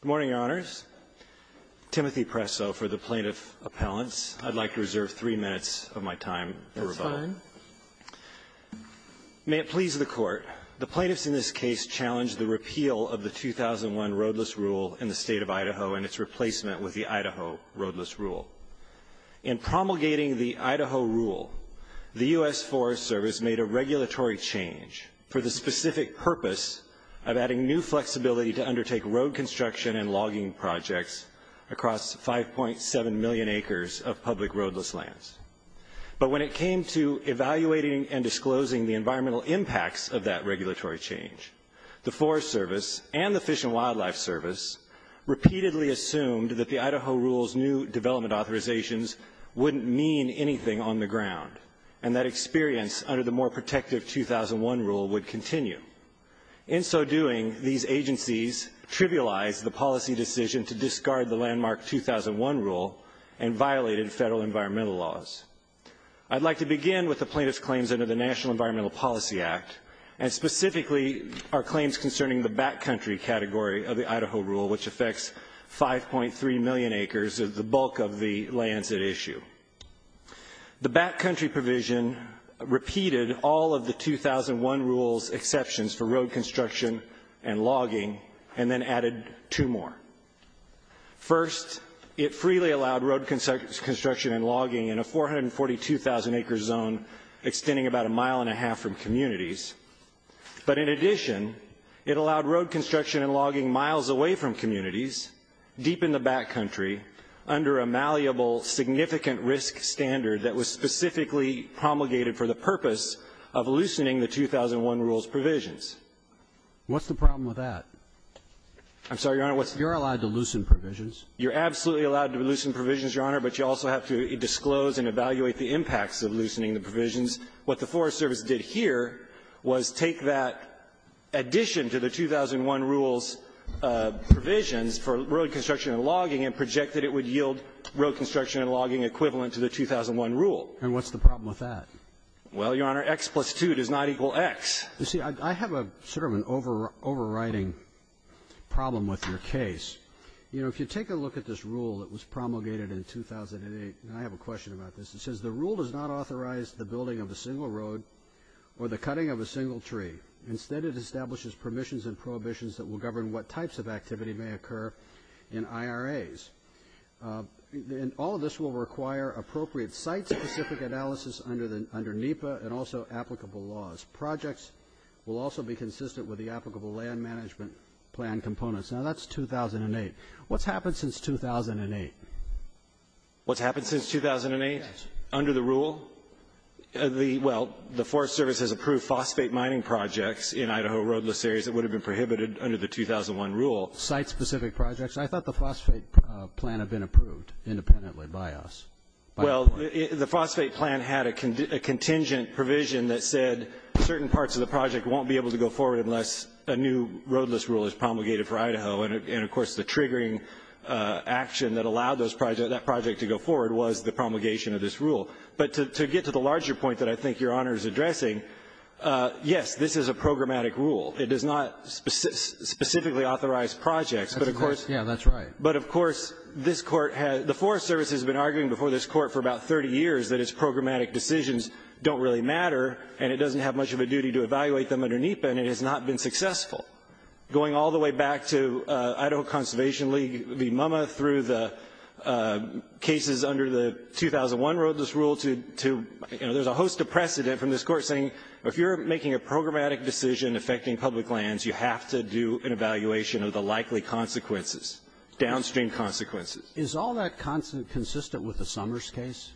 Good morning, Your Honors. Timothy Presso for the Plaintiff Appellants. I'd like to reserve three minutes of my time for rebuttal. That's fine. May it please the Court, the plaintiffs in this case challenged the repeal of the 2001 roadless rule in the State of Idaho and its replacement with the Idaho roadless rule. In promulgating the Idaho rule, the U.S. Forest Service made a regulatory change for the specific purpose of adding new flexibility to undertake road construction and logging projects across 5.7 million acres of public roadless lands. But when it came to evaluating and disclosing the environmental impacts of that regulatory change, the Forest Service and the Fish and Wildlife Service repeatedly assumed that the Idaho rule's new development authorizations wouldn't mean anything on the ground, and that experience under the more protective 2001 rule would continue. In so doing, these agencies trivialized the policy decision to discard the landmark 2001 rule and violated federal environmental laws. I'd like to begin with the plaintiff's claims under the National Environmental Policy Act, and specifically our claims concerning the backcountry category of the Idaho rule, which affects 5.3 million acres of the bulk of the lands at issue. The backcountry provision repeated all of the 2001 rule's exceptions for road construction and logging, and then added two more. First, it freely allowed road construction and logging in a 442,000-acre zone extending about a mile and a half from communities. But in addition, it allowed road construction and logging miles away from communities, deep in the backcountry, under a malleable significant risk standard that was specifically promulgated for the purpose of loosening the 2001 rule's provisions. What's the problem with that? I'm sorry, Your Honor. You're allowed to loosen provisions? You're absolutely allowed to loosen provisions, Your Honor, but you also have to disclose and evaluate the impacts of loosening the provisions. What the Forest Service did here was take that addition to the 2001 rule's provisions for road construction and logging and project that it would yield road construction and logging equivalent to the 2001 rule. And what's the problem with that? Well, Your Honor, X plus 2 does not equal X. You see, I have sort of an overriding problem with your case. You know, if you take a look at this rule that was promulgated in 2008, and I have a question about this, it says the rule does not authorize the building of a single road or the cutting of a single tree. Instead, it establishes permissions and prohibitions that will govern what types of activity may occur in IRAs. And all of this will require appropriate site-specific analysis under NEPA and also applicable laws. Projects will also be consistent with the applicable land management plan components. Now, that's 2008. What's happened since 2008? What's happened since 2008? Under the rule? Well, the Forest Service has approved phosphate mining projects in Idaho roadless areas that would have been prohibited under the 2001 rule. Site-specific projects. I thought the phosphate plan had been approved independently by us. Well, the phosphate plan had a contingent provision that said certain parts of the project won't be able to go forward unless a new roadless rule is promulgated for Idaho. And, of course, the triggering action that allowed those projects, that project to go forward was the promulgation of this rule. But to get to the larger point that I think Your Honor is addressing, yes, this is a programmatic rule. It does not specifically authorize projects. But, of course. Yes, that's right. But, of course, the Forest Service has been arguing before this court for about 30 years that its programmatic decisions don't really matter, and it doesn't have much of a duty to evaluate them under NEPA, and it has not been successful. Going all the way back to Idaho Conservation League v. MUMMA through the cases under the 2001 roadless rule, there's a host of precedent from this court saying if you're making a programmatic decision affecting public lands, you have to do an evaluation of the likely consequences, downstream consequences. Is all that consistent with the Summers case?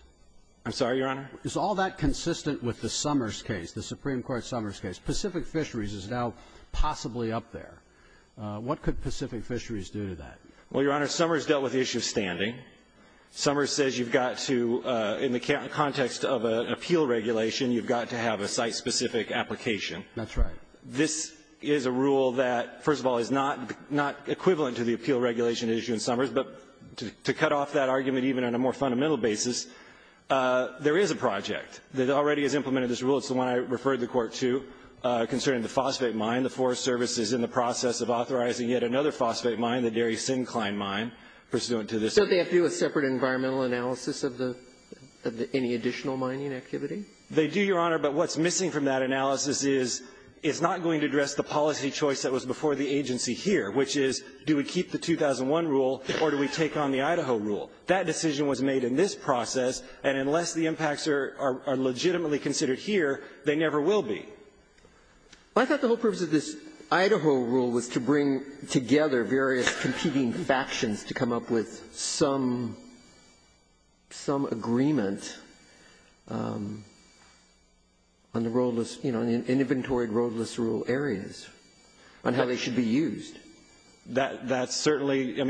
I'm sorry, Your Honor? Is all that consistent with the Summers case, the Supreme Court Summers case? Pacific Fisheries is now possibly up there. What could Pacific Fisheries do to that? Well, Your Honor, Summers dealt with the issue of standing. Summers says you've got to, in the context of an appeal regulation, you've got to have a site-specific application. That's right. This is a rule that, first of all, is not equivalent to the appeal regulation issue in Summers. But to cut off that argument even on a more fundamental basis, there is a project that already has implemented this rule. It's the one I referred the Court to concerning the phosphate mine. The Forest Service is in the process of authorizing yet another phosphate mine, the Dairy Sincline Mine, pursuant to this. So they have to do a separate environmental analysis of the any additional mining activity? They do, Your Honor. But what's missing from that analysis is it's not going to address the policy choice that was before the agency here, which is, do we keep the 2001 rule or do we take on the Idaho rule? That decision was made in this process, and unless the impacts are legitimately considered here, they never will be. Well, I thought the whole purpose of this Idaho rule was to bring together various competing factions to come up with some agreement on the roadless, you know, inventory roadless rule areas, on how they should be used. That's certainly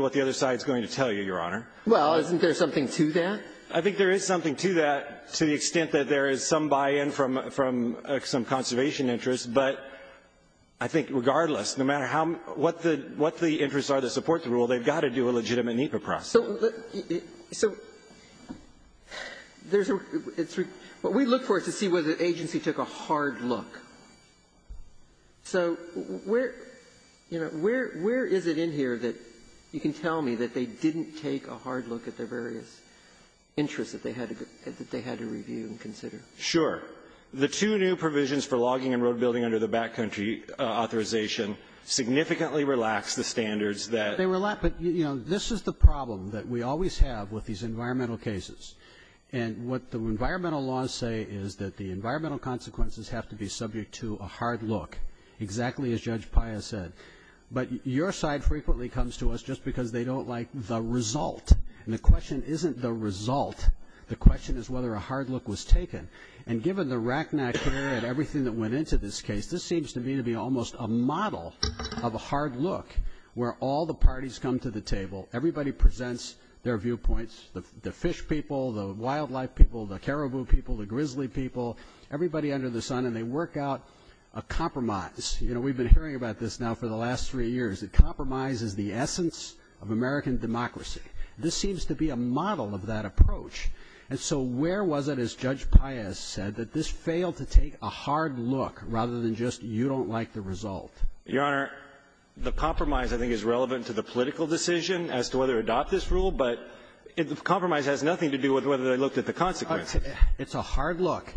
what the other side is going to tell you, Your Honor. Well, isn't there something to that? I think there is something to that, to the extent that there is some buy-in from some conservation interests, but I think regardless, no matter what the interests are that support the rule, they've got to do a legitimate NEPA process. So there's a we look for is to see whether the agency took a hard look. So where, you know, where is it in here that you can tell me that they didn't take a hard look at the various interests that they had to review and consider? Sure. The two new provisions for logging and road building under the backcountry authorization significantly relax the standards that they were left. But, you know, this is the problem that we always have with these environmental cases, and what the environmental laws say is that the environmental consequences have to be subject to a hard look, exactly as Judge Paya said. But your side frequently comes to us just because they don't like the result. And the question isn't the result. The question is whether a hard look was taken. And given the racknack here and everything that went into this case, this seems to me to be almost a model of a hard look where all the parties come to the table, everybody presents their viewpoints, the fish people, the wildlife people, the caribou people, the grizzly people, everybody under the sun, and they work out a compromise. You know, we've been hearing about this now for the last three years, that compromise is the essence of American democracy. This seems to be a model of that approach. And so where was it, as Judge Paya said, that this failed to take a hard look rather than just you don't like the result? Your Honor, the compromise I think is relevant to the political decision as to whether to adopt this rule, but the compromise has nothing to do with whether they looked at the consequences. It's a hard look.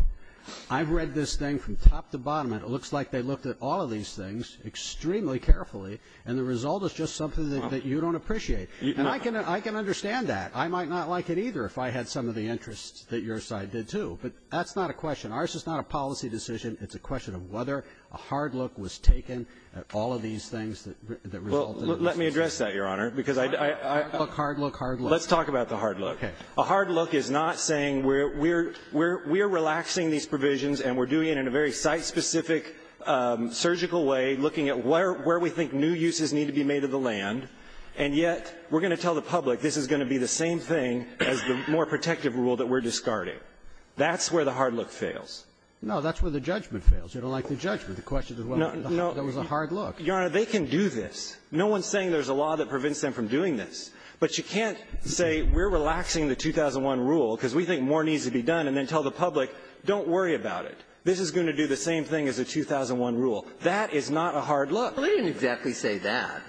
I've read this thing from top to bottom, and it looks like they looked at all of these things extremely carefully, and the result is just something that you don't appreciate. And I can understand that. I might not like it either if I had some of the interests that your side did, too. But that's not a question. Ours is not a policy decision. It's a question of whether a hard look was taken at all of these things that resulted in this. Well, let me address that, Your Honor, because I — Hard look, hard look, hard look. Let's talk about the hard look. Okay. A hard look is not saying we're relaxing these provisions and we're doing it in a very site-specific, surgical way, looking at where we think new uses need to be made of the same thing as the more protective rule that we're discarding. That's where the hard look fails. No, that's where the judgment fails. You don't like the judgment. The question is whether there was a hard look. Your Honor, they can do this. No one's saying there's a law that prevents them from doing this. But you can't say we're relaxing the 2001 rule because we think more needs to be done and then tell the public, don't worry about it. This is going to do the same thing as the 2001 rule. That is not a hard look. Well, they didn't exactly say that.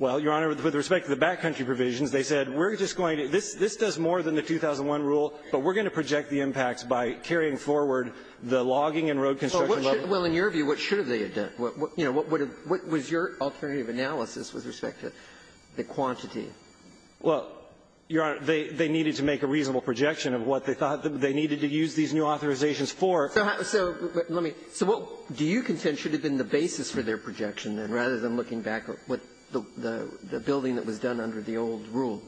Well, Your Honor, with respect to the backcountry provisions, they said, we're just going to do this. This does more than the 2001 rule, but we're going to project the impacts by carrying forward the logging and road construction level. Well, in your view, what should they have done? You know, what was your alternative analysis with respect to the quantity? Well, Your Honor, they needed to make a reasonable projection of what they thought they needed to use these new authorizations for. So let me so what do you contend should have been the basis for their projection and rather than looking back at what the building that was done under the old rule?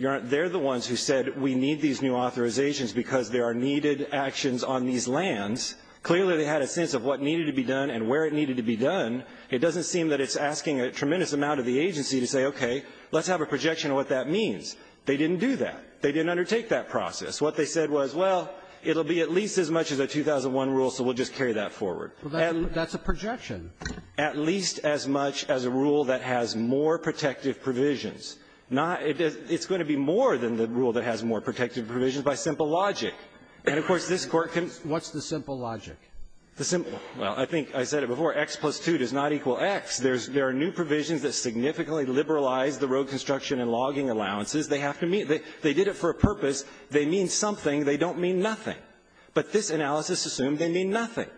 Your Honor, they're the ones who said we need these new authorizations because there are needed actions on these lands. Clearly, they had a sense of what needed to be done and where it needed to be done. It doesn't seem that it's asking a tremendous amount of the agency to say, okay, let's have a projection of what that means. They didn't do that. They didn't undertake that process. What they said was, well, it will be at least as much as a 2001 rule, so we'll just carry that forward. And that's a projection. At least as much as a rule that has more protective provisions. Not — it's going to be more than the rule that has more protective provisions by simple logic. And, of course, this Court can — What's the simple logic? The simple — well, I think I said it before. X plus 2 does not equal X. There's — there are new provisions that significantly liberalize the road construction and logging allowances. They have to meet — they did it for a purpose. They mean something. They don't mean nothing. But this analysis assumed they mean nothing.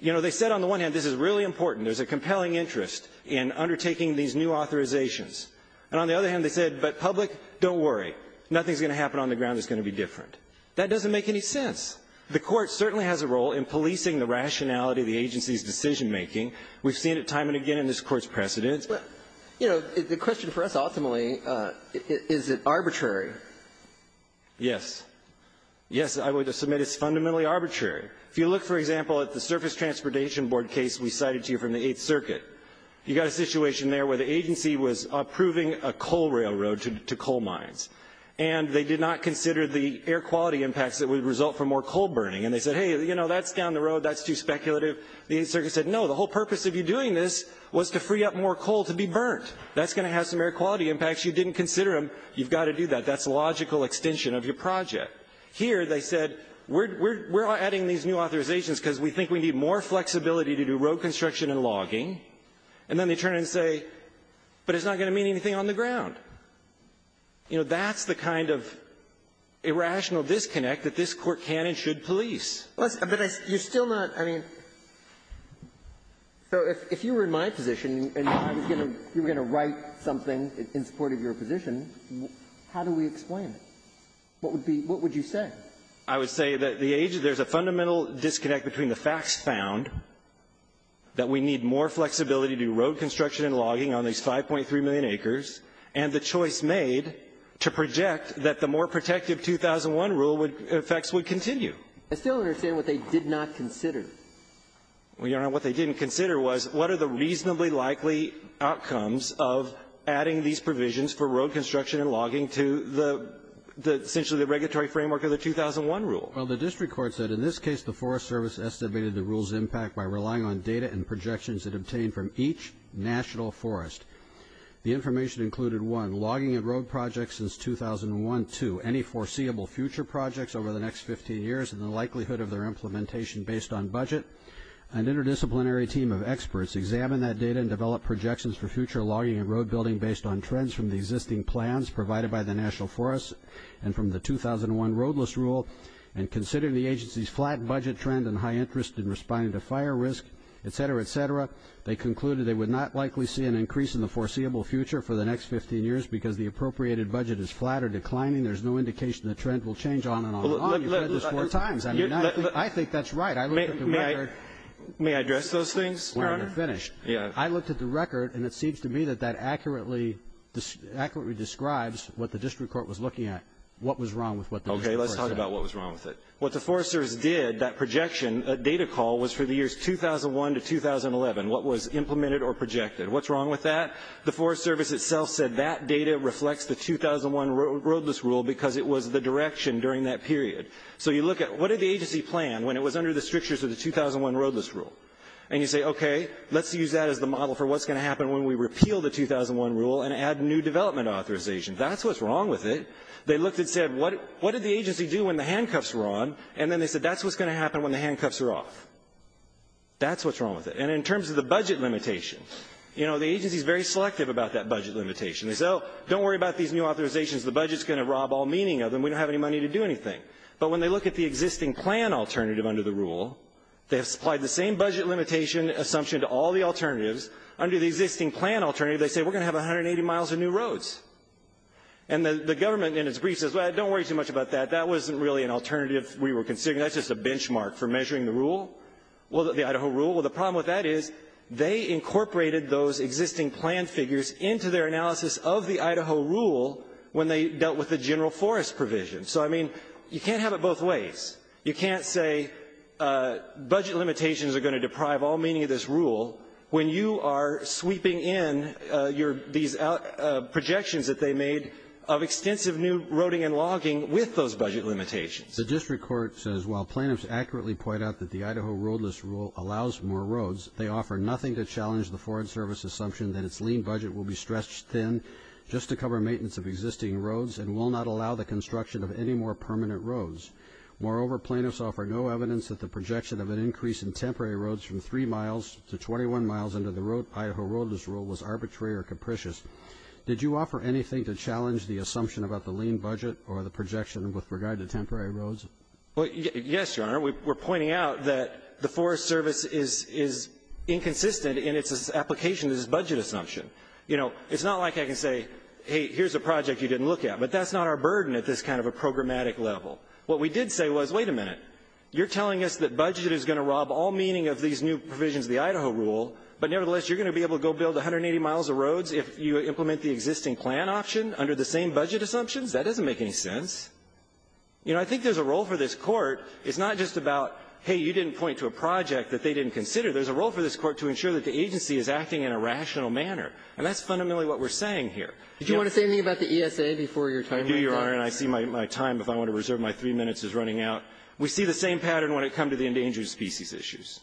You know, they said on the one hand, this is really important. There's a compelling interest in undertaking these new authorizations. And on the other hand, they said, but public, don't worry. Nothing's going to happen on the ground that's going to be different. That doesn't make any sense. The Court certainly has a role in policing the rationality of the agency's decision making. We've seen it time and again in this Court's precedents. But, you know, the question for us, ultimately, is it arbitrary? Yes. Yes, I would submit it's fundamentally arbitrary. If you look, for example, at the Surface Transportation Board case we cited to you from the Eighth Circuit, you got a situation there where the agency was approving a coal railroad to coal mines. And they did not consider the air quality impacts that would result from more coal burning. And they said, hey, you know, that's down the road. That's too speculative. The Eighth Circuit said, no, the whole purpose of you doing this was to free up more coal to be burnt. That's going to have some air quality impacts. You didn't consider them. You've got to do that. That's a logical extension of your project. Here, they said, we're adding these new authorizations because we think we need more flexibility to do road construction and logging. And then they turn and say, but it's not going to mean anything on the ground. You know, that's the kind of irrational disconnect that this Court can and should police. But you're still not – I mean, so if you were in my position and I was going to – you were going to write something in support of your position, how do we explain it? What would be – what would you say? I would say that the age – there's a fundamental disconnect between the facts found, that we need more flexibility to do road construction and logging on these 5.3 million acres, and the choice made to project that the more protective 2001 rule would – effects would continue. I still don't understand what they did not consider. Well, Your Honor, what they didn't consider was what are the reasonably likely outcomes of adding these provisions for road construction and logging to the – essentially the regulatory framework of the 2001 rule. Well, the district court said, in this case, the Forest Service estimated the rule's impact by relying on data and projections it obtained from each national forest. The information included, one, logging and road projects since 2001, two, any foreseeable future projects over the next 15 years and the likelihood of their implementation based on budget. An interdisciplinary team of experts examined that data and developed projections for future logging and road building based on trends from the existing plans provided by the national forest and from the 2001 roadless rule, and considering the agency's flat budget trend and high interest in responding to fire risk, et cetera, et cetera, they concluded they would not likely see an increase in the foreseeable future for the next 15 years because the appropriated budget is flat or declining. There's no indication the trend will change on and on and on. You've said this four times. I mean, I think that's right. I looked at the record. May I address those things, Your Honor? When you're finished. Yeah. I looked at the record, and it seems to me that that accurately describes what the district court was looking at, what was wrong with what the district court said. Okay. Let's talk about what was wrong with it. What the Forest Service did, that projection, that data call, was for the years 2001 to 2011, what was implemented or projected. What's wrong with that? The Forest Service itself said that data reflects the 2001 roadless rule because it was the direction during that period. So you look at what did the agency plan when it was under the strictures of the 2001 roadless rule? And you say, okay, let's use that as the model for what's going to happen when we repeal the 2001 rule and add new development authorization. That's what's wrong with it. They looked and said, what did the agency do when the handcuffs were on? And then they said, that's what's going to happen when the handcuffs are off. That's what's wrong with it. And in terms of the budget limitation, you know, the agency is very selective about that budget limitation. They say, oh, don't worry about these new authorizations. The budget is going to rob all meaning of them. We don't have any money to do anything. But when they look at the existing plan alternative under the rule, they have supplied the same budget limitation assumption to all the alternatives. Under the existing plan alternative, they say, we're going to have 180 miles of new roads. And the government in its brief says, well, don't worry too much about that. That wasn't really an alternative we were considering. That's just a benchmark for measuring the rule, the Idaho rule. Well, the problem with that is they incorporated those existing plan figures into their analysis of the Idaho rule when they dealt with the general forest provision. So, I mean, you can't have it both ways. You can't say budget limitations are going to deprive all meaning of this rule when you are sweeping in these projections that they made of extensive new roading and logging with those budget limitations. The district court says, while plaintiffs accurately point out that the Idaho roadless rule allows more roads, they offer nothing to challenge the Foreign Service assumption that its lean budget will be stretched thin just to cover maintenance of existing roads and will not allow the construction of any more permanent roads. Moreover, plaintiffs offer no evidence that the projection of an increase in temporary roads from 3 miles to 21 miles under the Idaho roadless rule was arbitrary or capricious. Did you offer anything to challenge the assumption about the lean budget or the projection with regard to temporary roads? Well, yes, Your Honor. We're pointing out that the Forest Service is inconsistent in its application of this budget assumption. You know, it's not like I can say, hey, here's a project you didn't look at. But that's not our burden at this kind of a programmatic level. What we did say was, wait a minute, you're telling us that budget is going to rob all meaning of these new provisions of the Idaho rule, but nevertheless, you're going to be able to go build 180 miles of roads if you implement the existing plan option under the same budget assumptions? That doesn't make any sense. You know, I think there's a role for this Court. It's not just about, hey, you didn't point to a project that they didn't consider. There's a role for this Court to ensure that the agency is acting in a rational manner. And that's fundamentally what we're saying here. Did you want to say anything about the ESA before your time runs out? I do, Your Honor, and I see my time, if I want to reserve my three minutes, is running out. We see the same pattern when it comes to the endangered species issues.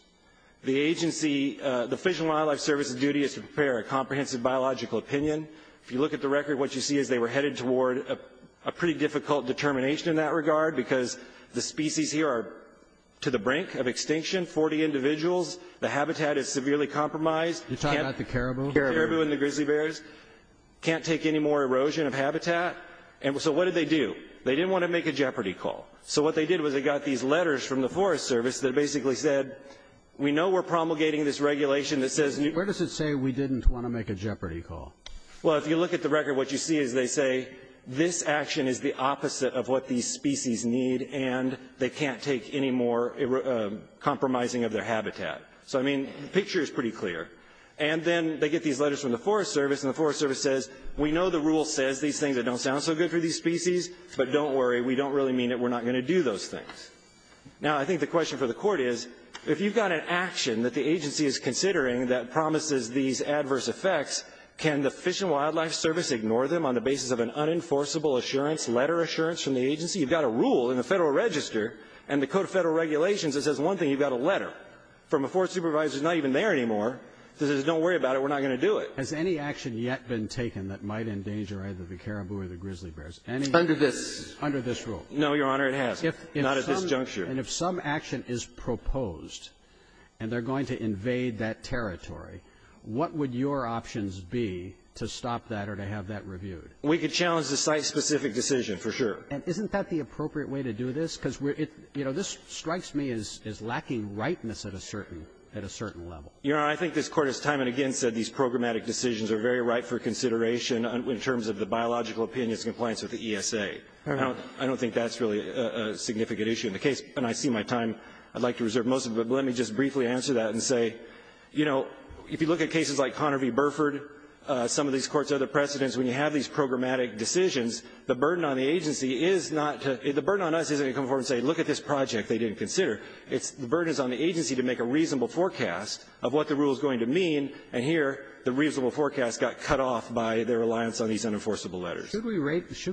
The agency, the Fish and Wildlife Service's duty is to prepare a comprehensive biological opinion. If you look at the record, what you see is they were headed toward a pretty difficult determination in that regard, because the species here are to the brink of extinction, 40 individuals. The habitat is severely compromised. You're talking about the caribou? The caribou and the grizzly bears can't take any more erosion of habitat. And so what did they do? They didn't want to make a jeopardy call. So what they did was they got these letters from the Forest Service that basically said, we know we're promulgating this regulation that says new Where does it say we didn't want to make a jeopardy call? Well, if you look at the record, what you see is they say this action is the opposite of what these species need, and they can't take any more compromising of their habitat. So, I mean, the picture is pretty clear. And then they get these letters from the Forest Service, and the Forest Service says, we know the rule says these things that don't sound so good for these species, but don't worry, we don't really mean it, we're not going to do those things. Now, I think the question for the court is, if you've got an action that the agency is considering that promises these adverse effects, can the Fish and Wildlife Service ignore them on the basis of an unenforceable assurance, letter assurance from the agency? You've got a rule in the Federal Register and the Code of Federal Regulations that says one thing, you've got a letter from a forest supervisor who's not even there anymore, that says don't worry about it, we're not going to do it. Has any action yet been taken that might endanger either the caribou or the grizzly bears? Under this. Under this rule? No, Your Honor, it hasn't. Not at this juncture. And if some action is proposed, and they're going to invade that territory, what would your options be to stop that or to have that reviewed? We could challenge the site-specific decision, for sure. And isn't that the appropriate way to do this? Because, you know, this strikes me as lacking rightness at a certain level. Your Honor, I think this Court has time and again said these programmatic decisions are very ripe for consideration in terms of the biological opinions and compliance with the ESA. I don't think that's really a significant issue in the case. And I see my time, I'd like to reserve most of it, but let me just briefly answer that and say, you know, if you look at cases like Conner v. Burford, some of these Courts' other precedents, when you have these programmatic decisions, the burden on the agency is not to the burden on us isn't to come forward and say, look at this project they didn't consider. It's the burden is on the agency to make a reasonable forecast of what the rule is going to mean. And here, the reasonable forecast got cut off by their reliance on these unenforceable letters. Should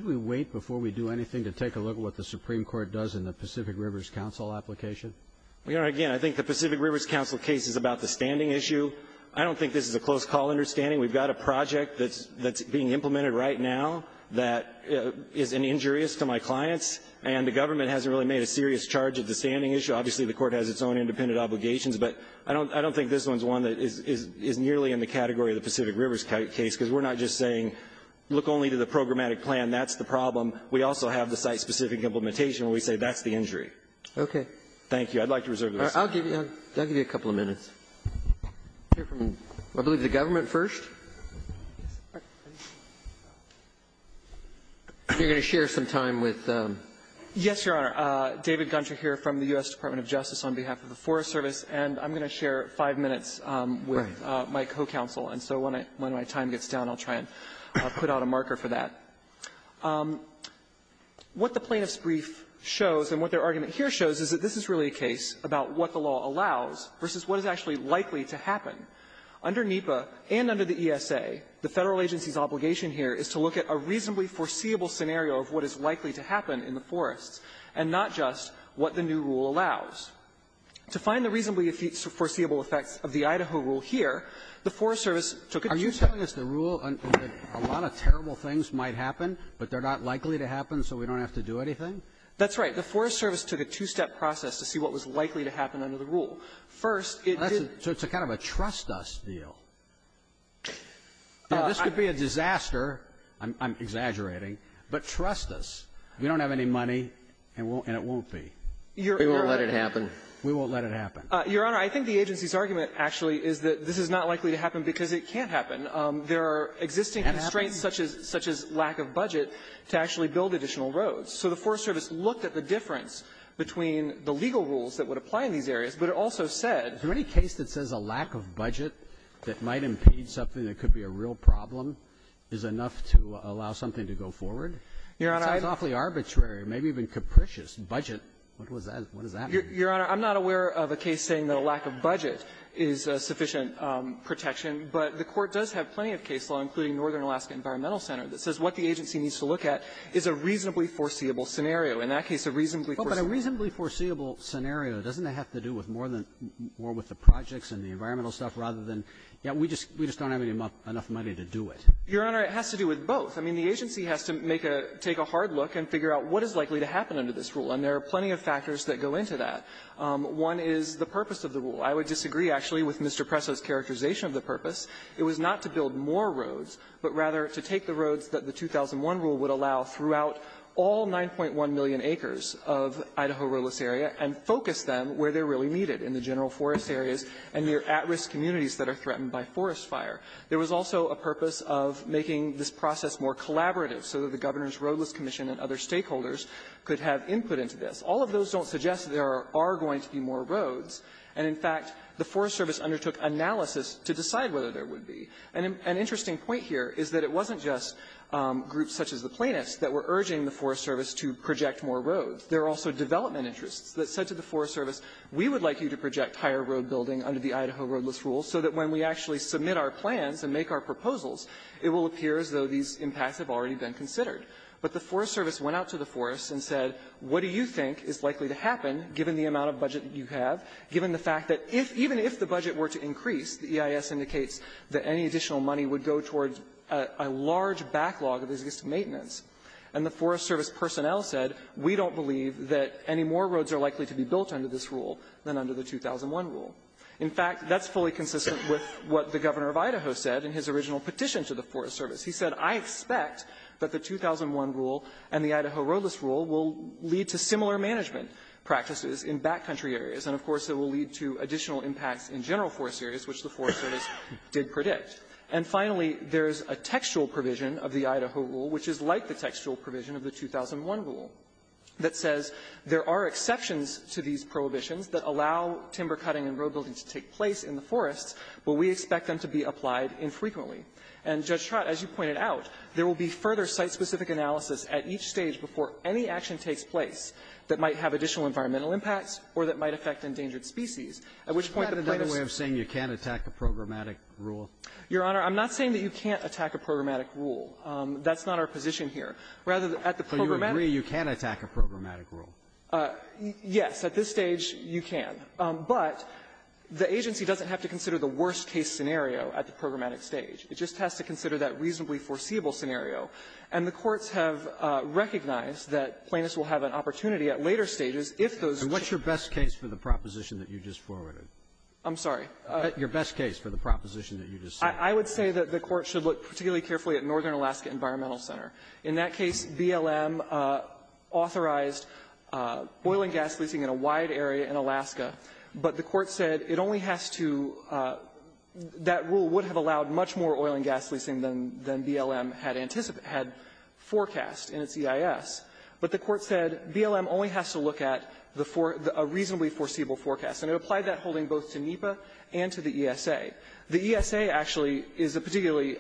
we wait before we do anything to take a look at what the Supreme Court does in the Pacific Rivers Council application? Your Honor, again, I think the Pacific Rivers Council case is about the standing issue. I don't think this is a close-call understanding. We've got a project that's being implemented right now that is injurious to my clients, and the government hasn't really made a serious charge of the standing issue. Obviously, the Court has its own independent obligations, but I don't think this one is one that is nearly in the category of the Pacific Rivers case, because we're not just saying, look only to the programmatic plan, that's the problem. We also have the site-specific implementation where we say, that's the injury. Robertson, thank you. I'd like to reserve the rest of my time. I'll give you a couple of minutes. I believe the government first. You're going to share some time with them. I'm going to share five minutes with my co-counsel, and so when my time gets down, I'll try and put out a marker for that. What the plaintiff's brief shows, and what their argument here shows, is that this is really a case about what the law allows versus what is actually likely to happen. Under NEPA and under the ESA, the Federal agency's obligation here is to look at a reasonably foreseeable scenario of what is likely to happen in the forests, and not just what the new rule allows. To find the reasonably foreseeable effects of the Idaho rule here, the Forest Service took a two-step rule. Robertson, are you telling us the rule that a lot of terrible things might happen, but they're not likely to happen, so we don't have to do anything? That's right. The Forest Service took a two-step process to see what was likely to happen under the rule. First, it did not do anything. So it's a kind of a trust-us deal. This could be a disaster. I'm exaggerating. But trust us. We don't have any money, and it won't be. We won't let it happen. We won't let it happen. Your Honor, I think the agency's argument actually is that this is not likely to happen because it can't happen. There are existing constraints such as lack of budget to actually build additional roads. So the Forest Service looked at the difference between the legal rules that would apply in these areas, but it also said that the rule is not likely to happen. Is there any case that says a lack of budget that might impede something that could be a real problem is enough to allow something to go forward? Your Honor, I don't think so. Roberts, it sounds awfully arbitrary, maybe even capricious. Budget? What was that? What does that mean? Your Honor, I'm not aware of a case saying that a lack of budget is sufficient protection. But the Court does have plenty of case law, including Northern Alaska Environmental Center, that says what the agency needs to look at is a reasonably foreseeable scenario. In that case, a reasonably foreseeable scenario. Well, but a reasonably foreseeable scenario, doesn't it have to do with more than more with the projects and the environmental stuff rather than, yeah, we just don't have enough money to do it? Your Honor, it has to do with both. I mean, the agency has to make a — take a hard look and figure out what is likely to happen under this rule. And there are plenty of factors that go into that. One is the purpose of the rule. I would disagree, actually, with Mr. Presso's characterization of the purpose. It was not to build more roads, but rather to take the roads that the 2001 rule would allow throughout all 9.1 million acres of Idaho roadless area and focus them where they're really needed in the general forest areas and near at-risk communities that are threatened by forest fire. There was also a purpose of making this process more collaborative so that the Governor's Roadless Commission and other stakeholders could have input into this. All of those don't suggest there are going to be more roads. And, in fact, the Forest Service undertook analysis to decide whether there would be. And an interesting point here is that it wasn't just groups such as the plaintiffs that were urging the Forest Service to project more roads. There were also development interests that said to the Forest Service, we would like you to project higher road building under the Idaho roadless rule so that when we actually submit our plans and make our proposals, it will appear as though these impacts have already been considered. But the Forest Service went out to the forest and said, what do you think is likely to happen, given the amount of budget that you have, given the fact that if even if the budget were to increase, the EIS indicates that any additional money would go towards a large backlog of business maintenance. And the Forest Service personnel said, we don't believe that any more roads are likely to be built under this rule than under the 2001 rule. In fact, that's fully consistent with what the Governor of Idaho said in his original petition to the Forest Service. He said, I expect that the 2001 rule and the Idaho roadless rule will lead to similar management practices in backcountry areas. And, of course, it will lead to additional impacts in general forest areas, which the Forest Service did predict. And, finally, there is a textual provision of the Idaho rule, which is like the textual provision of the 2001 rule, that says there are exceptions to these prohibitions that allow timber cutting and road building to take place in the forests, but we expect them to be applied infrequently. And, Judge Trott, as you pointed out, there will be further site-specific analysis at each stage before any action takes place that might have additional environmental impacts or that might affect endangered species, at which point the plaintiffs' ---- Roberts. Sotomayor, you can't attack a programmatic rule? Trott, Your Honor, I'm not saying that you can't attack a programmatic rule. That's not our position here. Rather, at the programmatic rule you can't attack a programmatic rule. Yes. At this stage, you can. But the agency doesn't have to consider the worst-case scenario at the programmatic stage. It just has to consider that reasonably foreseeable scenario. And the courts have recognized that plaintiffs will have an opportunity at later stages if those ---- Alito, and what's your best case for the proposition that you just forwarded? Trott, I'm sorry. Alito, your best case for the proposition that you just said. Trott, I would say that the Court should look particularly carefully at Northern oil and gas leasing in a wide area in Alaska. But the Court said it only has to ---- that rule would have allowed much more oil and gas leasing than BLM had anticipated ---- had forecast in its EIS. But the Court said BLM only has to look at the ---- a reasonably foreseeable forecast. And it applied that holding both to NEPA and to the ESA. The ESA, actually, is a particularly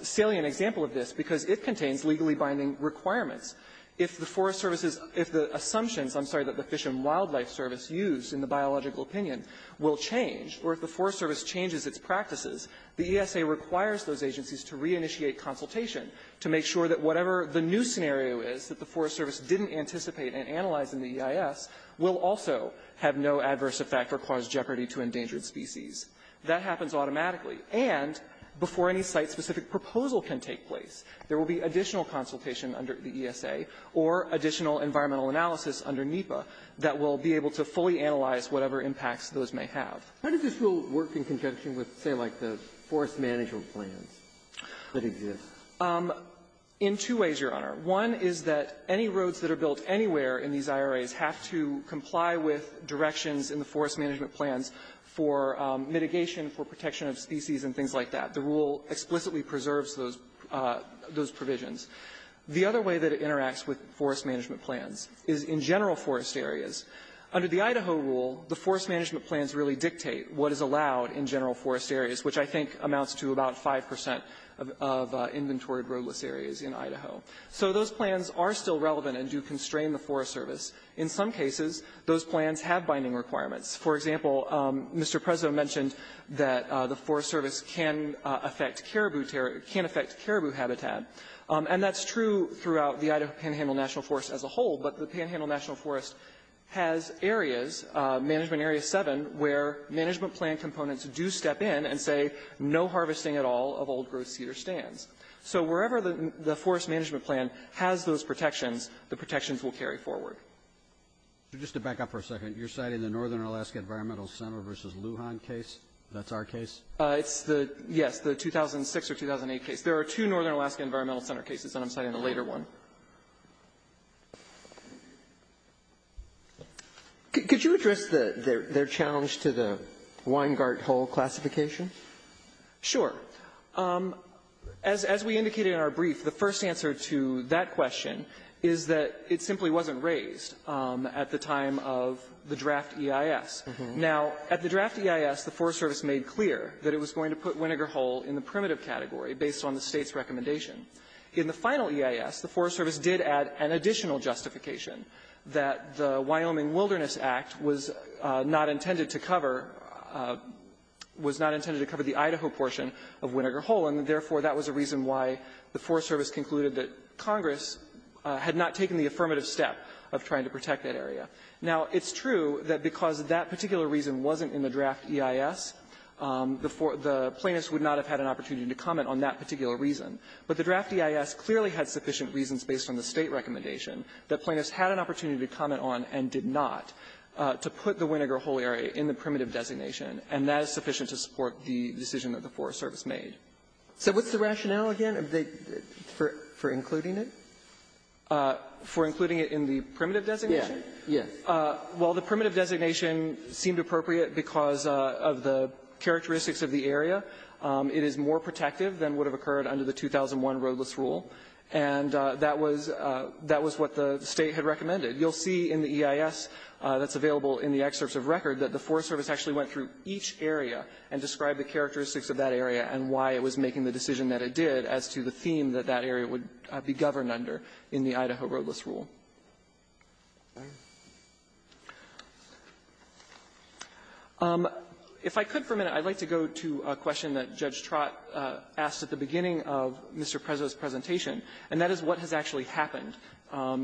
salient example of this because it contains legally binding requirements. If the Forest Service's ---- if the assumptions, I'm sorry, that the Fish and Wildlife Service used in the biological opinion will change, or if the Forest Service changes its practices, the ESA requires those agencies to reinitiate consultation to make sure that whatever the new scenario is that the Forest Service didn't anticipate and analyze in the EIS will also have no adverse effect or cause jeopardy to endangered species. That happens automatically. And before any site-specific proposal can take place, there will be additional consultation under the ESA or additional environmental analysis under NEPA that will be able to fully analyze whatever impacts those may have. Kennedy. How does this rule work in conjunction with, say, like the forest management plans that exist? In two ways, Your Honor. One is that any roads that are built anywhere in these IRAs have to comply with directions in the forest management plans for mitigation, for protection of species, and things like that. The rule explicitly preserves those provisions. The other way that it interacts with forest management plans is in general forest areas. Under the Idaho rule, the forest management plans really dictate what is allowed in general forest areas, which I think amounts to about 5 percent of inventory roadless areas in Idaho. So those plans are still relevant and do constrain the Forest Service. In some cases, those plans have binding requirements. For example, Mr. Prezzo mentioned that the Forest Service can affect caribou habitat. And that's true throughout the Idaho Panhandle National Forest as a whole. But the Panhandle National Forest has areas, Management Area 7, where management plan components do step in and say no harvesting at all of old-growth cedar stands. So wherever the forest management plan has those protections, the protections will carry forward. So just to back up for a second, you're citing the Northern Alaska Environmental Center v. Lujan case? That's our case? It's the, yes, the 2006 or 2008 case. There are two Northern Alaska Environmental Center cases, and I'm citing a later one. Could you address their challenge to the Weingartt-Hull classification? Sure. As we indicated in our brief, the first answer to that question is that it simply wasn't raised at the time of the draft EIS. Now, at the draft EIS, the Forest Service made clear that it was going to put Winnegah Hull in the primitive category based on the State's recommendation. In the final EIS, the Forest Service did add an additional justification, that the Wyoming Wilderness Act was not intended to cover the Idaho portion of Winnegah Hull, and therefore, that was a reason why the Forest Service concluded that Congress had not taken the affirmative step of trying to protect that area. Now, it's true that because that particular reason wasn't in the draft EIS, the plaintiffs would not have had an opportunity to comment on that particular reason. But the draft EIS clearly had sufficient reasons based on the State recommendation that plaintiffs had an opportunity to comment on and did not to put the Winnegah Hull area in the primitive designation, and that is sufficient to support the decision that the Forest Service made. So what's the rationale again for including it? For including it in the primitive designation? Yes. Well, the primitive designation seemed appropriate because of the characteristics of the area. It is more protective than would have occurred under the 2001 roadless rule, and that was what the State had recommended. You'll see in the EIS that's available in the excerpts of record that the Forest Service actually went through each area and described the characteristics of that area and why it was making the decision that it did as to the theme that that area would be governed under in the Idaho roadless rule. If I could for a minute, I'd like to go to a question that Judge Trott asked at the beginning of Mr. Prezzo's presentation, and that is what has actually happened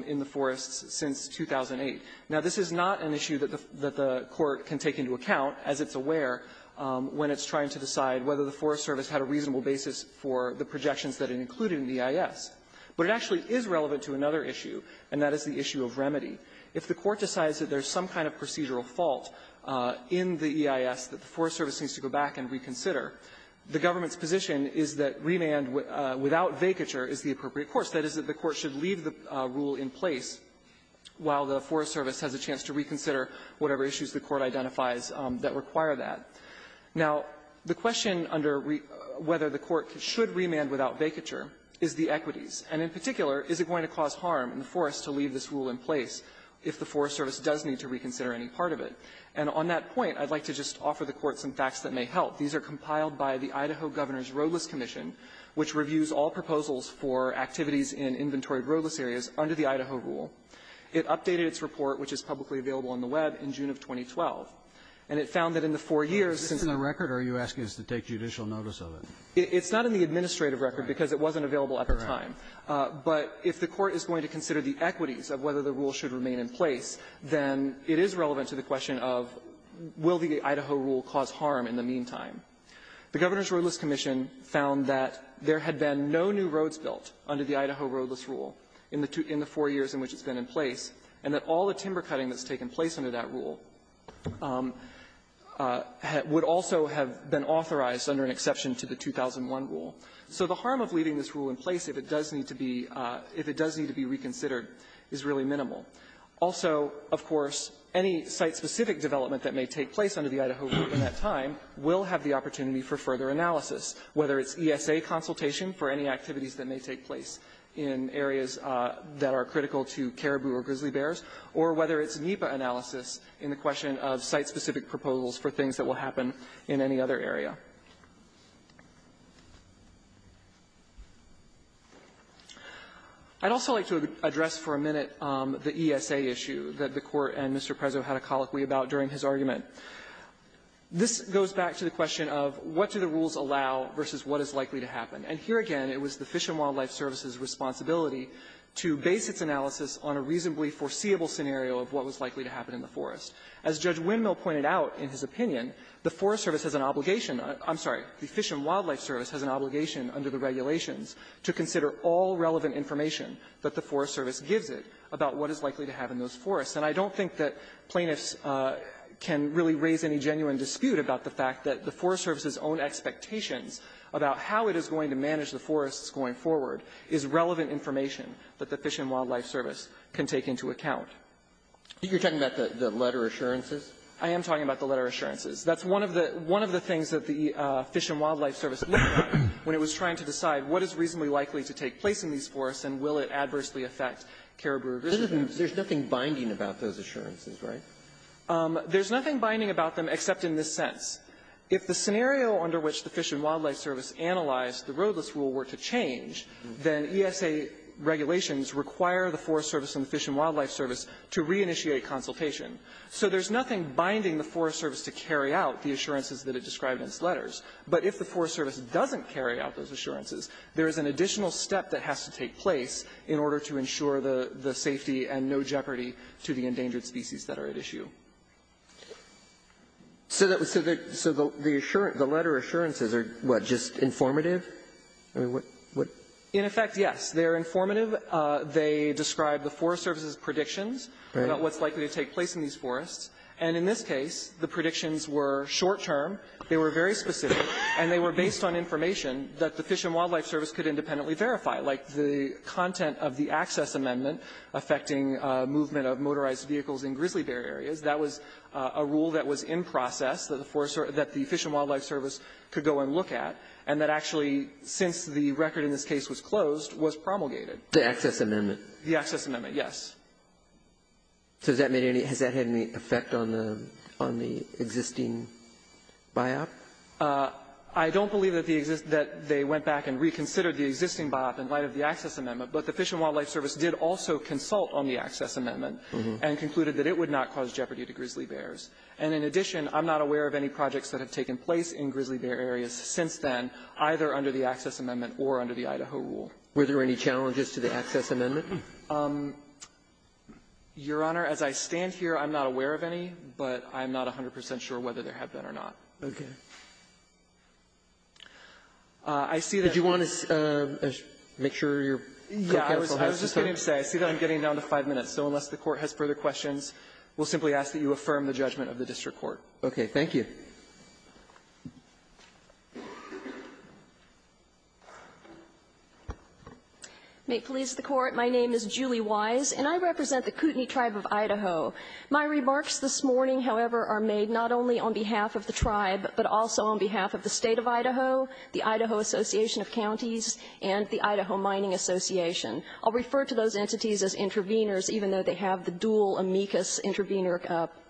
in the forests since 2008. Now, this is not an issue that the Court can take into account, as it's aware, when it's trying to decide whether the Forest Service had a reasonable basis for the EIS. But it actually is relevant to another issue, and that is the issue of remedy. If the Court decides that there's some kind of procedural fault in the EIS that the Forest Service needs to go back and reconsider, the government's position is that remand without vacature is the appropriate course. That is, that the Court should leave the rule in place while the Forest Service has a chance to reconsider whatever issues the Court identifies that require that. Now, the question under whether the Court should remand without vacature is the equities. And in particular, is it going to cause harm in the forests to leave this rule in place if the Forest Service does need to reconsider any part of it? And on that point, I'd like to just offer the Court some facts that may help. These are compiled by the Idaho Governor's Roadless Commission, which reviews all proposals for activities in inventoried roadless areas under the Idaho rule. It updated its report, which is publicly available on the Web, in June of 2012. And it found that in the four years since the record or are you asking us to take judicial notice of it? It's not in the administrative record because it wasn't available at the time. But if the Court is going to consider the equities of whether the rule should remain in place, then it is relevant to the question of will the Idaho rule cause harm in the meantime. The Governor's Roadless Commission found that there had been no new roads built under the Idaho roadless rule in the four years in which it's been in place, and that all the timber cutting that's taken place under that rule would also have been So the harm of leaving this rule in place, if it does need to be, if it does need to be reconsidered, is really minimal. Also, of course, any site-specific development that may take place under the Idaho rule at that time will have the opportunity for further analysis, whether it's ESA consultation for any activities that may take place in areas that are critical to caribou or grizzly bears, or whether it's NEPA analysis in the question of site-specific proposals for things that will happen in any other area. I'd also like to address for a minute the ESA issue that the Court and Mr. Prezzo had a colloquy about during his argument. This goes back to the question of what do the rules allow versus what is likely to happen. And here again, it was the Fish and Wildlife Service's responsibility to base its analysis on a reasonably foreseeable scenario of what was likely to happen in the forest. As Judge Windmill pointed out in his opinion, the Forest Service has an obligation to the Fish and Wildlife Service has an obligation under the regulations to consider all relevant information that the Forest Service gives it about what is likely to happen in those forests. And I don't think that plaintiffs can really raise any genuine dispute about the fact that the Forest Service's own expectations about how it is going to manage the forests going forward is relevant information that the Fish and Wildlife Service can take into account. You're talking about the letter assurances? I am talking about the letter assurances. That's one of the things that the Fish and Wildlife Service looked at when it was trying to decide what is reasonably likely to take place in these forests and will it adversely affect caribou rescue efforts. There's nothing binding about those assurances, right? There's nothing binding about them except in this sense. If the scenario under which the Fish and Wildlife Service analyzed the roadless rule were to change, then ESA regulations require the Forest Service and the Fish and Wildlife Service to reinitiate consultation. So there's nothing binding the Forest Service to carry out the assurances that it described in its letters. But if the Forest Service doesn't carry out those assurances, there is an additional step that has to take place in order to ensure the safety and no jeopardy to the endangered species that are at issue. So the letter assurances are, what, just informative? In effect, yes. They are informative. They describe the Forest Service's predictions about what's likely to take place in these forests. And in this case, the predictions were short-term. They were very specific, and they were based on information that the Fish and Wildlife Service could independently verify, like the content of the access amendment affecting movement of motorized vehicles in grizzly bear areas. That was a rule that was in process that the Fish and Wildlife Service could go and look at, and that actually, since the record in this case was closed, was promulgated. The access amendment. The access amendment, yes. So has that had any effect on the existing BIOP? I don't believe that they went back and reconsidered the existing BIOP in light of the access amendment, but the Fish and Wildlife Service did also consult on the access amendment and concluded that it would not cause jeopardy to grizzly bears. And in addition, I'm not aware of any projects that have taken place in grizzly bear areas since then, either under the access amendment or under the Idaho rule. Were there any challenges to the access amendment? Your Honor, as I stand here, I'm not aware of any, but I'm not 100 percent sure whether there have been or not. Okay. I see that you want to make sure your counsel has to say that I'm getting down to five minutes, so unless the Court has further questions, we'll simply ask that you affirm the judgment of the district court. Okay. Thank you. May it please the Court, my name is Julie Wise, and I represent the Kootenai Tribe of Idaho. My remarks this morning, however, are made not only on behalf of the tribe, but also on behalf of the State of Idaho, the Idaho Association of Counties, and the Idaho Mining Association. I'll refer to those entities as intervenors, even though they have the dual amicus intervenor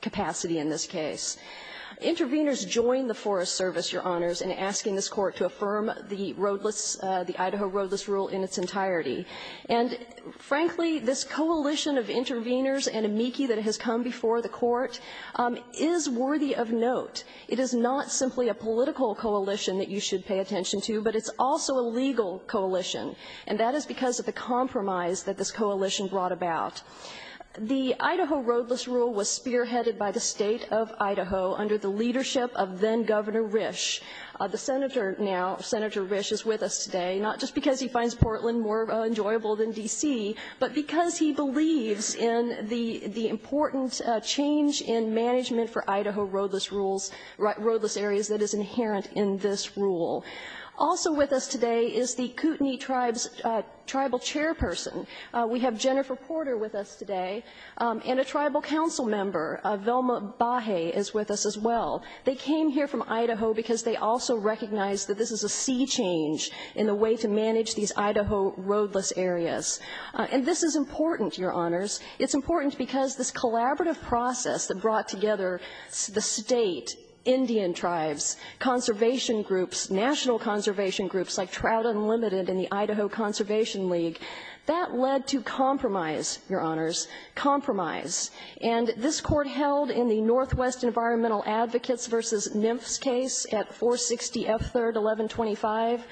capacity in this case. Intervenors joined the Forest Service, Your Honors, in asking this Court to affirm the roadless, the Idaho roadless rule in its entirety. And frankly, this coalition of intervenors and amici that has come before the Court is worthy of note. It is not simply a political coalition that you should pay attention to, but it's also a legal coalition, and that is because of the compromise that this coalition brought about. The Idaho roadless rule was spearheaded by the State of Idaho under the leadership of then-Governor Risch. The Senator now, Senator Risch, is with us today, not just because he finds Portland more enjoyable than D.C., but because he believes in the important change in management for Idaho roadless rules, roadless areas that is inherent in this rule. Also with us today is the Kootenai Tribes tribal chairperson. We have Jennifer Porter with us today, and a tribal council member, Velma Bahe, is with us as well. They came here from Idaho because they also recognize that this is a sea change in the way to manage these Idaho roadless areas. And this is important, Your Honors. It's important because this collaborative process that brought together the state, Indian tribes, conservation groups, national conservation groups like Trout Unlimited and the Idaho Conservation League, that led to compromise, Your Honors, compromise. And this Court held in the Northwest Environmental Advocates v. Nymph's case at 460 F. 3rd, 1125,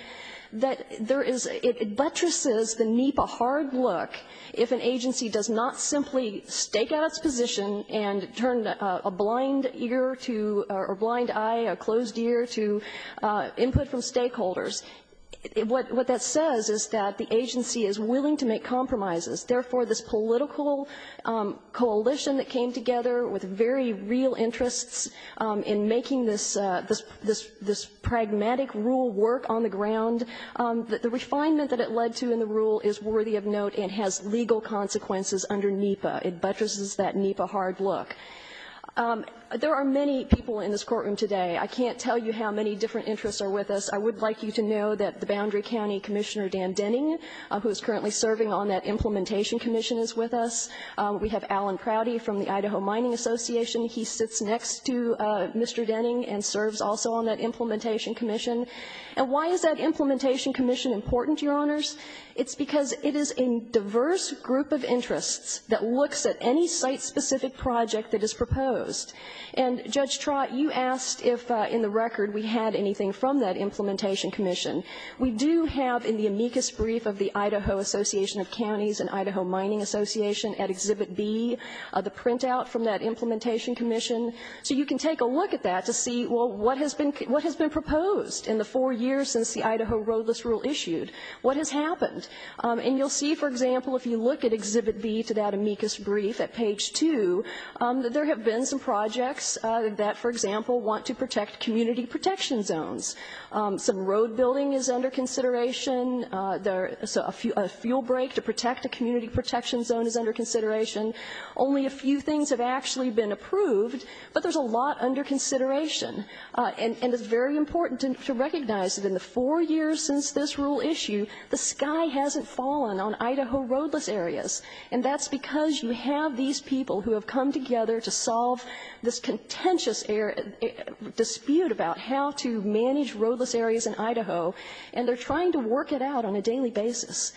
that there is – it buttresses the NEPA hard look if an agency does not simply stake out its position and turn a blind ear to – or blind eye, a closed ear to input from stakeholders. What that says is that the agency is willing to make compromises. Therefore, this political coalition that came together with very real interests in making this – this pragmatic rule work on the ground, the refinement that it led to in the rule is worthy of note and has legal consequences under NEPA. It buttresses that NEPA hard look. There are many people in this courtroom today. I can't tell you how many different interests are with us. I would like you to know that the Boundary County Commissioner Dan Denning, who is currently serving on that Implementation Commission, is with us. We have Alan Prouty from the Idaho Mining Association. He sits next to Mr. Denning and serves also on that Implementation Commission. And why is that Implementation Commission important, Your Honors? It's because it is a diverse group of interests that looks at any site-specific project that is proposed. And, Judge Trott, you asked if in the record we had anything from that Implementation Commission. We do have in the amicus brief of the Idaho Association of Counties and Idaho Mining Association at Exhibit B the printout from that Implementation Commission. So you can take a look at that to see, well, what has been – what has been proposed in the four years since the Idaho Roadless Rule issued? What has happened? And you'll see, for example, if you look at Exhibit B to that amicus brief at page 2, that there have been some projects that, for example, want to protect community protection zones. Some road building is under consideration, a fuel break to protect a community protection zone is under consideration. Only a few things have actually been approved, but there's a lot under consideration. And it's very important to recognize that in the four years since this rule issued, the sky hasn't fallen on Idaho roadless areas. And that's because you have these people who have come together to solve this contentious dispute about how to manage roadless areas in Idaho, and they're trying to work it out on a daily basis.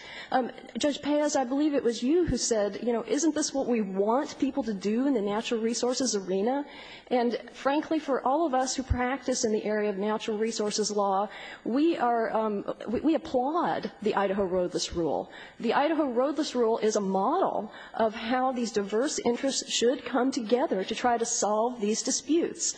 Judge Pez, I believe it was you who said, you know, isn't this what we want people to do in the natural resources arena? And, frankly, for all of us who practice in the area of natural resources law, we are – we applaud the Idaho Roadless Rule. The Idaho Roadless Rule is a model of how these diverse interests should come together to try to solve these disputes.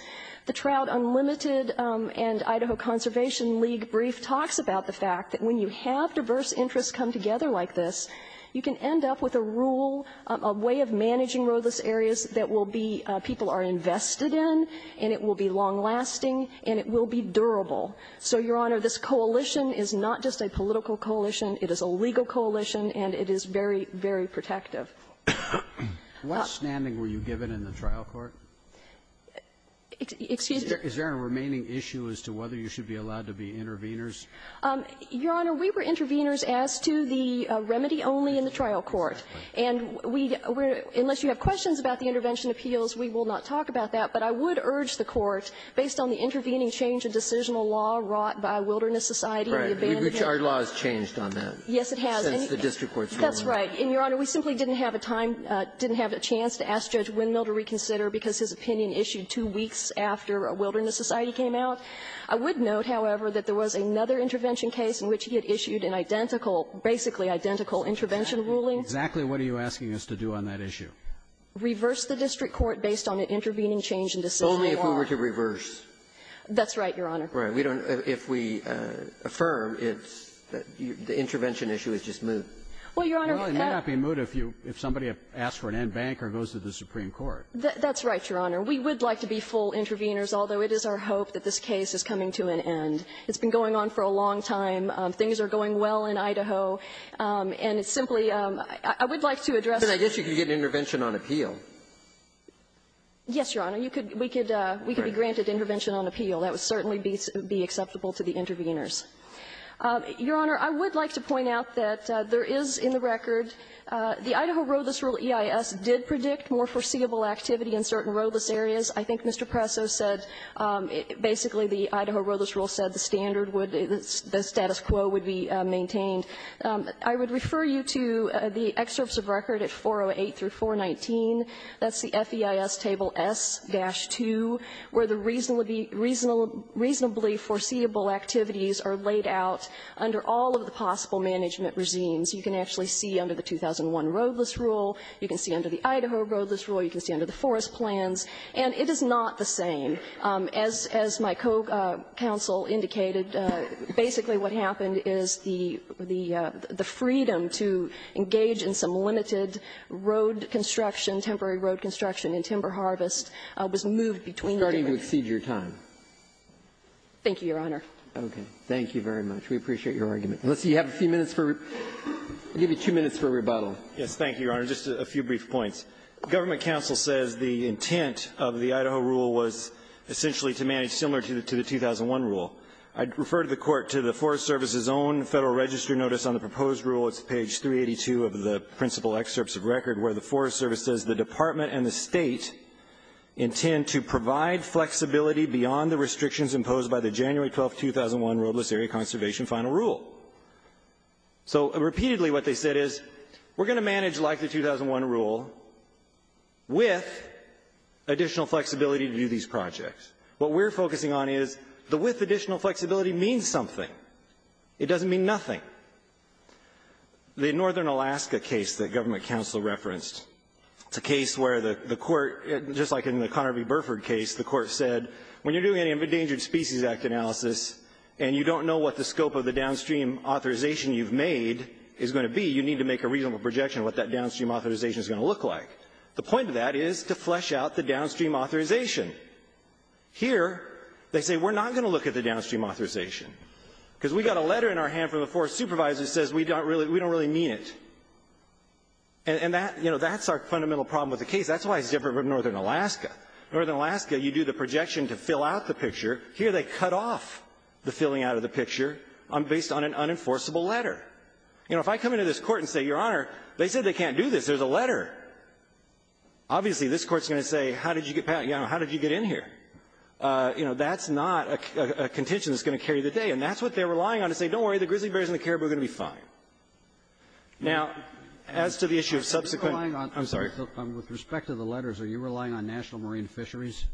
The Trout Unlimited and Idaho Conservation League brief talks about the fact that when you have diverse interests come together like this, you can end up with a rule, a way of managing roadless areas that will be – people are invested in, and it will be long lasting, and it will be durable. So, Your Honor, this coalition is not just a political coalition. It is a legal coalition, and it is very, very protective. Roberts. What standing were you given in the trial court? Excuse me? Is there a remaining issue as to whether you should be allowed to be interveners? Your Honor, we were interveners as to the remedy only in the trial court. And we – unless you have questions about the intervention appeals, we will not talk about that. But I would urge the Court, based on the intervening change in decisional law wrought by Wilderness Society and the abandonment of the district court, to reconsider the case. Breyer. Our law has changed on that. Yes, it has. Since the district court's ruling. That's right. And, Your Honor, we simply didn't have a time – didn't have a chance to ask Judge Windmill to reconsider because his opinion issued two weeks after Wilderness Society came out. I would note, however, that there was another intervention case in which he had issued an identical – basically identical intervention ruling. Exactly what are you asking us to do on that issue? Reverse the district court based on an intervening change in decisional law. Only if we were to reverse. That's right, Your Honor. Right. We don't – if we affirm, it's – the intervention issue is just moot. Well, Your Honor – Well, it may not be moot if you – if somebody asks for an end bank or goes to the supreme court. That's right, Your Honor. We would like to be full interveners, although it is our hope that this case is coming to an end. It's been going on for a long time. Things are going well in Idaho. And it's simply – I would like to address the – But I guess you could get an intervention on appeal. Yes, Your Honor. You could – we could be granted intervention on appeal. That would certainly be acceptable to the interveners. Your Honor, I would like to point out that there is in the record – the Idaho Roethlis Rule EIS did predict more foreseeable activity in certain Roethlis areas. I think Mr. Presso said – basically the Idaho Roethlis Rule said the standard would – the status quo would be maintained. I would refer you to the excerpts of record at 408 through 419. That's the FEIS table S-2, where the reasonably foreseeable activities are laid out under all of the possible management regimes. You can actually see under the 2001 Roethlis Rule. You can see under the Idaho Roethlis Rule. You can see under the forest plans. And it is not the same. But as my co-counsel indicated, basically what happened is the freedom to engage in some limited road construction, temporary road construction, and timber harvest was moved between the two. It's starting to exceed your time. Thank you, Your Honor. Okay. Thank you very much. We appreciate your argument. Let's see. You have a few minutes for – I'll give you two minutes for rebuttal. Yes. Thank you, Your Honor. Just a few brief points. Government counsel says the intent of the Idaho Rule was essentially to manage similar to the 2001 Rule. I'd refer the Court to the Forest Service's own Federal Register Notice on the proposed Rule. It's page 382 of the principal excerpts of record, where the Forest Service says the Department and the State intend to provide flexibility beyond the restrictions imposed by the January 12, 2001 Roethlis Area Conservation Final Rule. So, repeatedly what they said is, we're going to manage like the 2001 Rule with additional flexibility to do these projects. What we're focusing on is the with additional flexibility means something. It doesn't mean nothing. The Northern Alaska case that government counsel referenced, it's a case where the Court, just like in the Connerby-Burford case, the Court said, when you're doing an Endangered Species Act analysis and you don't know what the scope of the downstream authorization you've made is going to be, you need to make a reasonable projection of what that downstream authorization is going to look like. The point of that is to flesh out the downstream authorization. Here, they say, we're not going to look at the downstream authorization. Because we got a letter in our hand from the Forest Supervisor that says we don't really, we don't really mean it. And that, you know, that's our fundamental problem with the case. That's why it's different from Northern Alaska. Northern Alaska, you do the projection to fill out the picture. Here, they cut off the filling out of the picture. I'm based on an unenforceable letter. You know, if I come into this Court and say, Your Honor, they said they can't do this. There's a letter. Obviously, this Court's going to say, how did you get, how did you get in here? You know, that's not a contention that's going to carry the day. And that's what they're relying on to say, don't worry, the grizzly bears and the caribou are going to be fine. Now, as to the issue of subsequent ---- Roberts. I'm sorry. With respect to the letters, are you relying on National Marine Fisheries?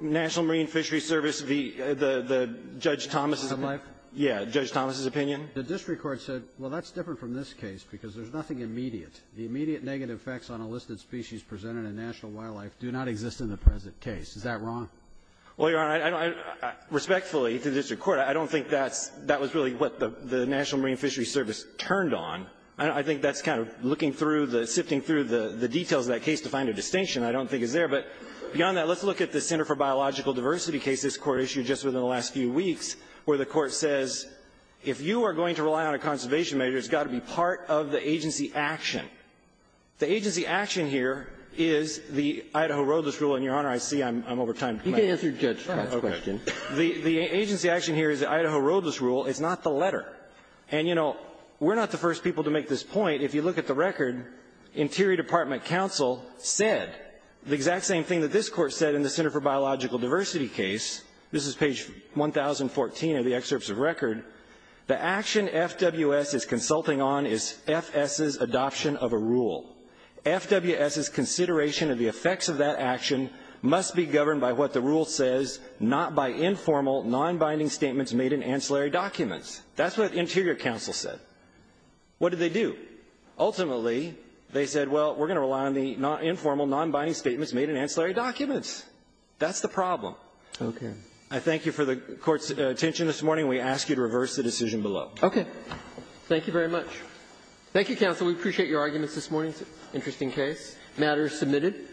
National Marine Fisheries Service, the Judge Thomas's ---- Wildlife? Yeah, Judge Thomas's opinion. The district court said, well, that's different from this case, because there's nothing immediate. The immediate negative effects on a listed species presented in national wildlife do not exist in the present case. Is that wrong? Well, Your Honor, I don't ---- respectfully to the district court, I don't think that's ---- that was really what the National Marine Fisheries Service turned on. I think that's kind of looking through the ---- sifting through the details of that case to find a distinction I don't think is there. But beyond that, let's look at the Center for Biological Diversity case this Court referred to just within the last few weeks, where the Court says if you are going to rely on a conservation measure, it's got to be part of the agency action. The agency action here is the Idaho roadless rule. And, Your Honor, I see I'm over time. You can answer Judge Scott's question. The agency action here is the Idaho roadless rule. It's not the letter. And, you know, we're not the first people to make this point. If you look at the record, Interior Department counsel said the exact same thing that this Court said in the Center for Biological Diversity case, this is page 1014 of the excerpts of record. The action FWS is consulting on is F.S.'s adoption of a rule. FWS's consideration of the effects of that action must be governed by what the rule says, not by informal, nonbinding statements made in ancillary documents. That's what Interior counsel said. What did they do? Ultimately, they said, well, we're going to rely on the informal, nonbinding statements made in ancillary documents. That's the problem. Okay. I thank you for the Court's attention this morning. We ask you to reverse the decision below. Okay. Thank you very much. Thank you, counsel. It's an interesting case. The matter is submitted.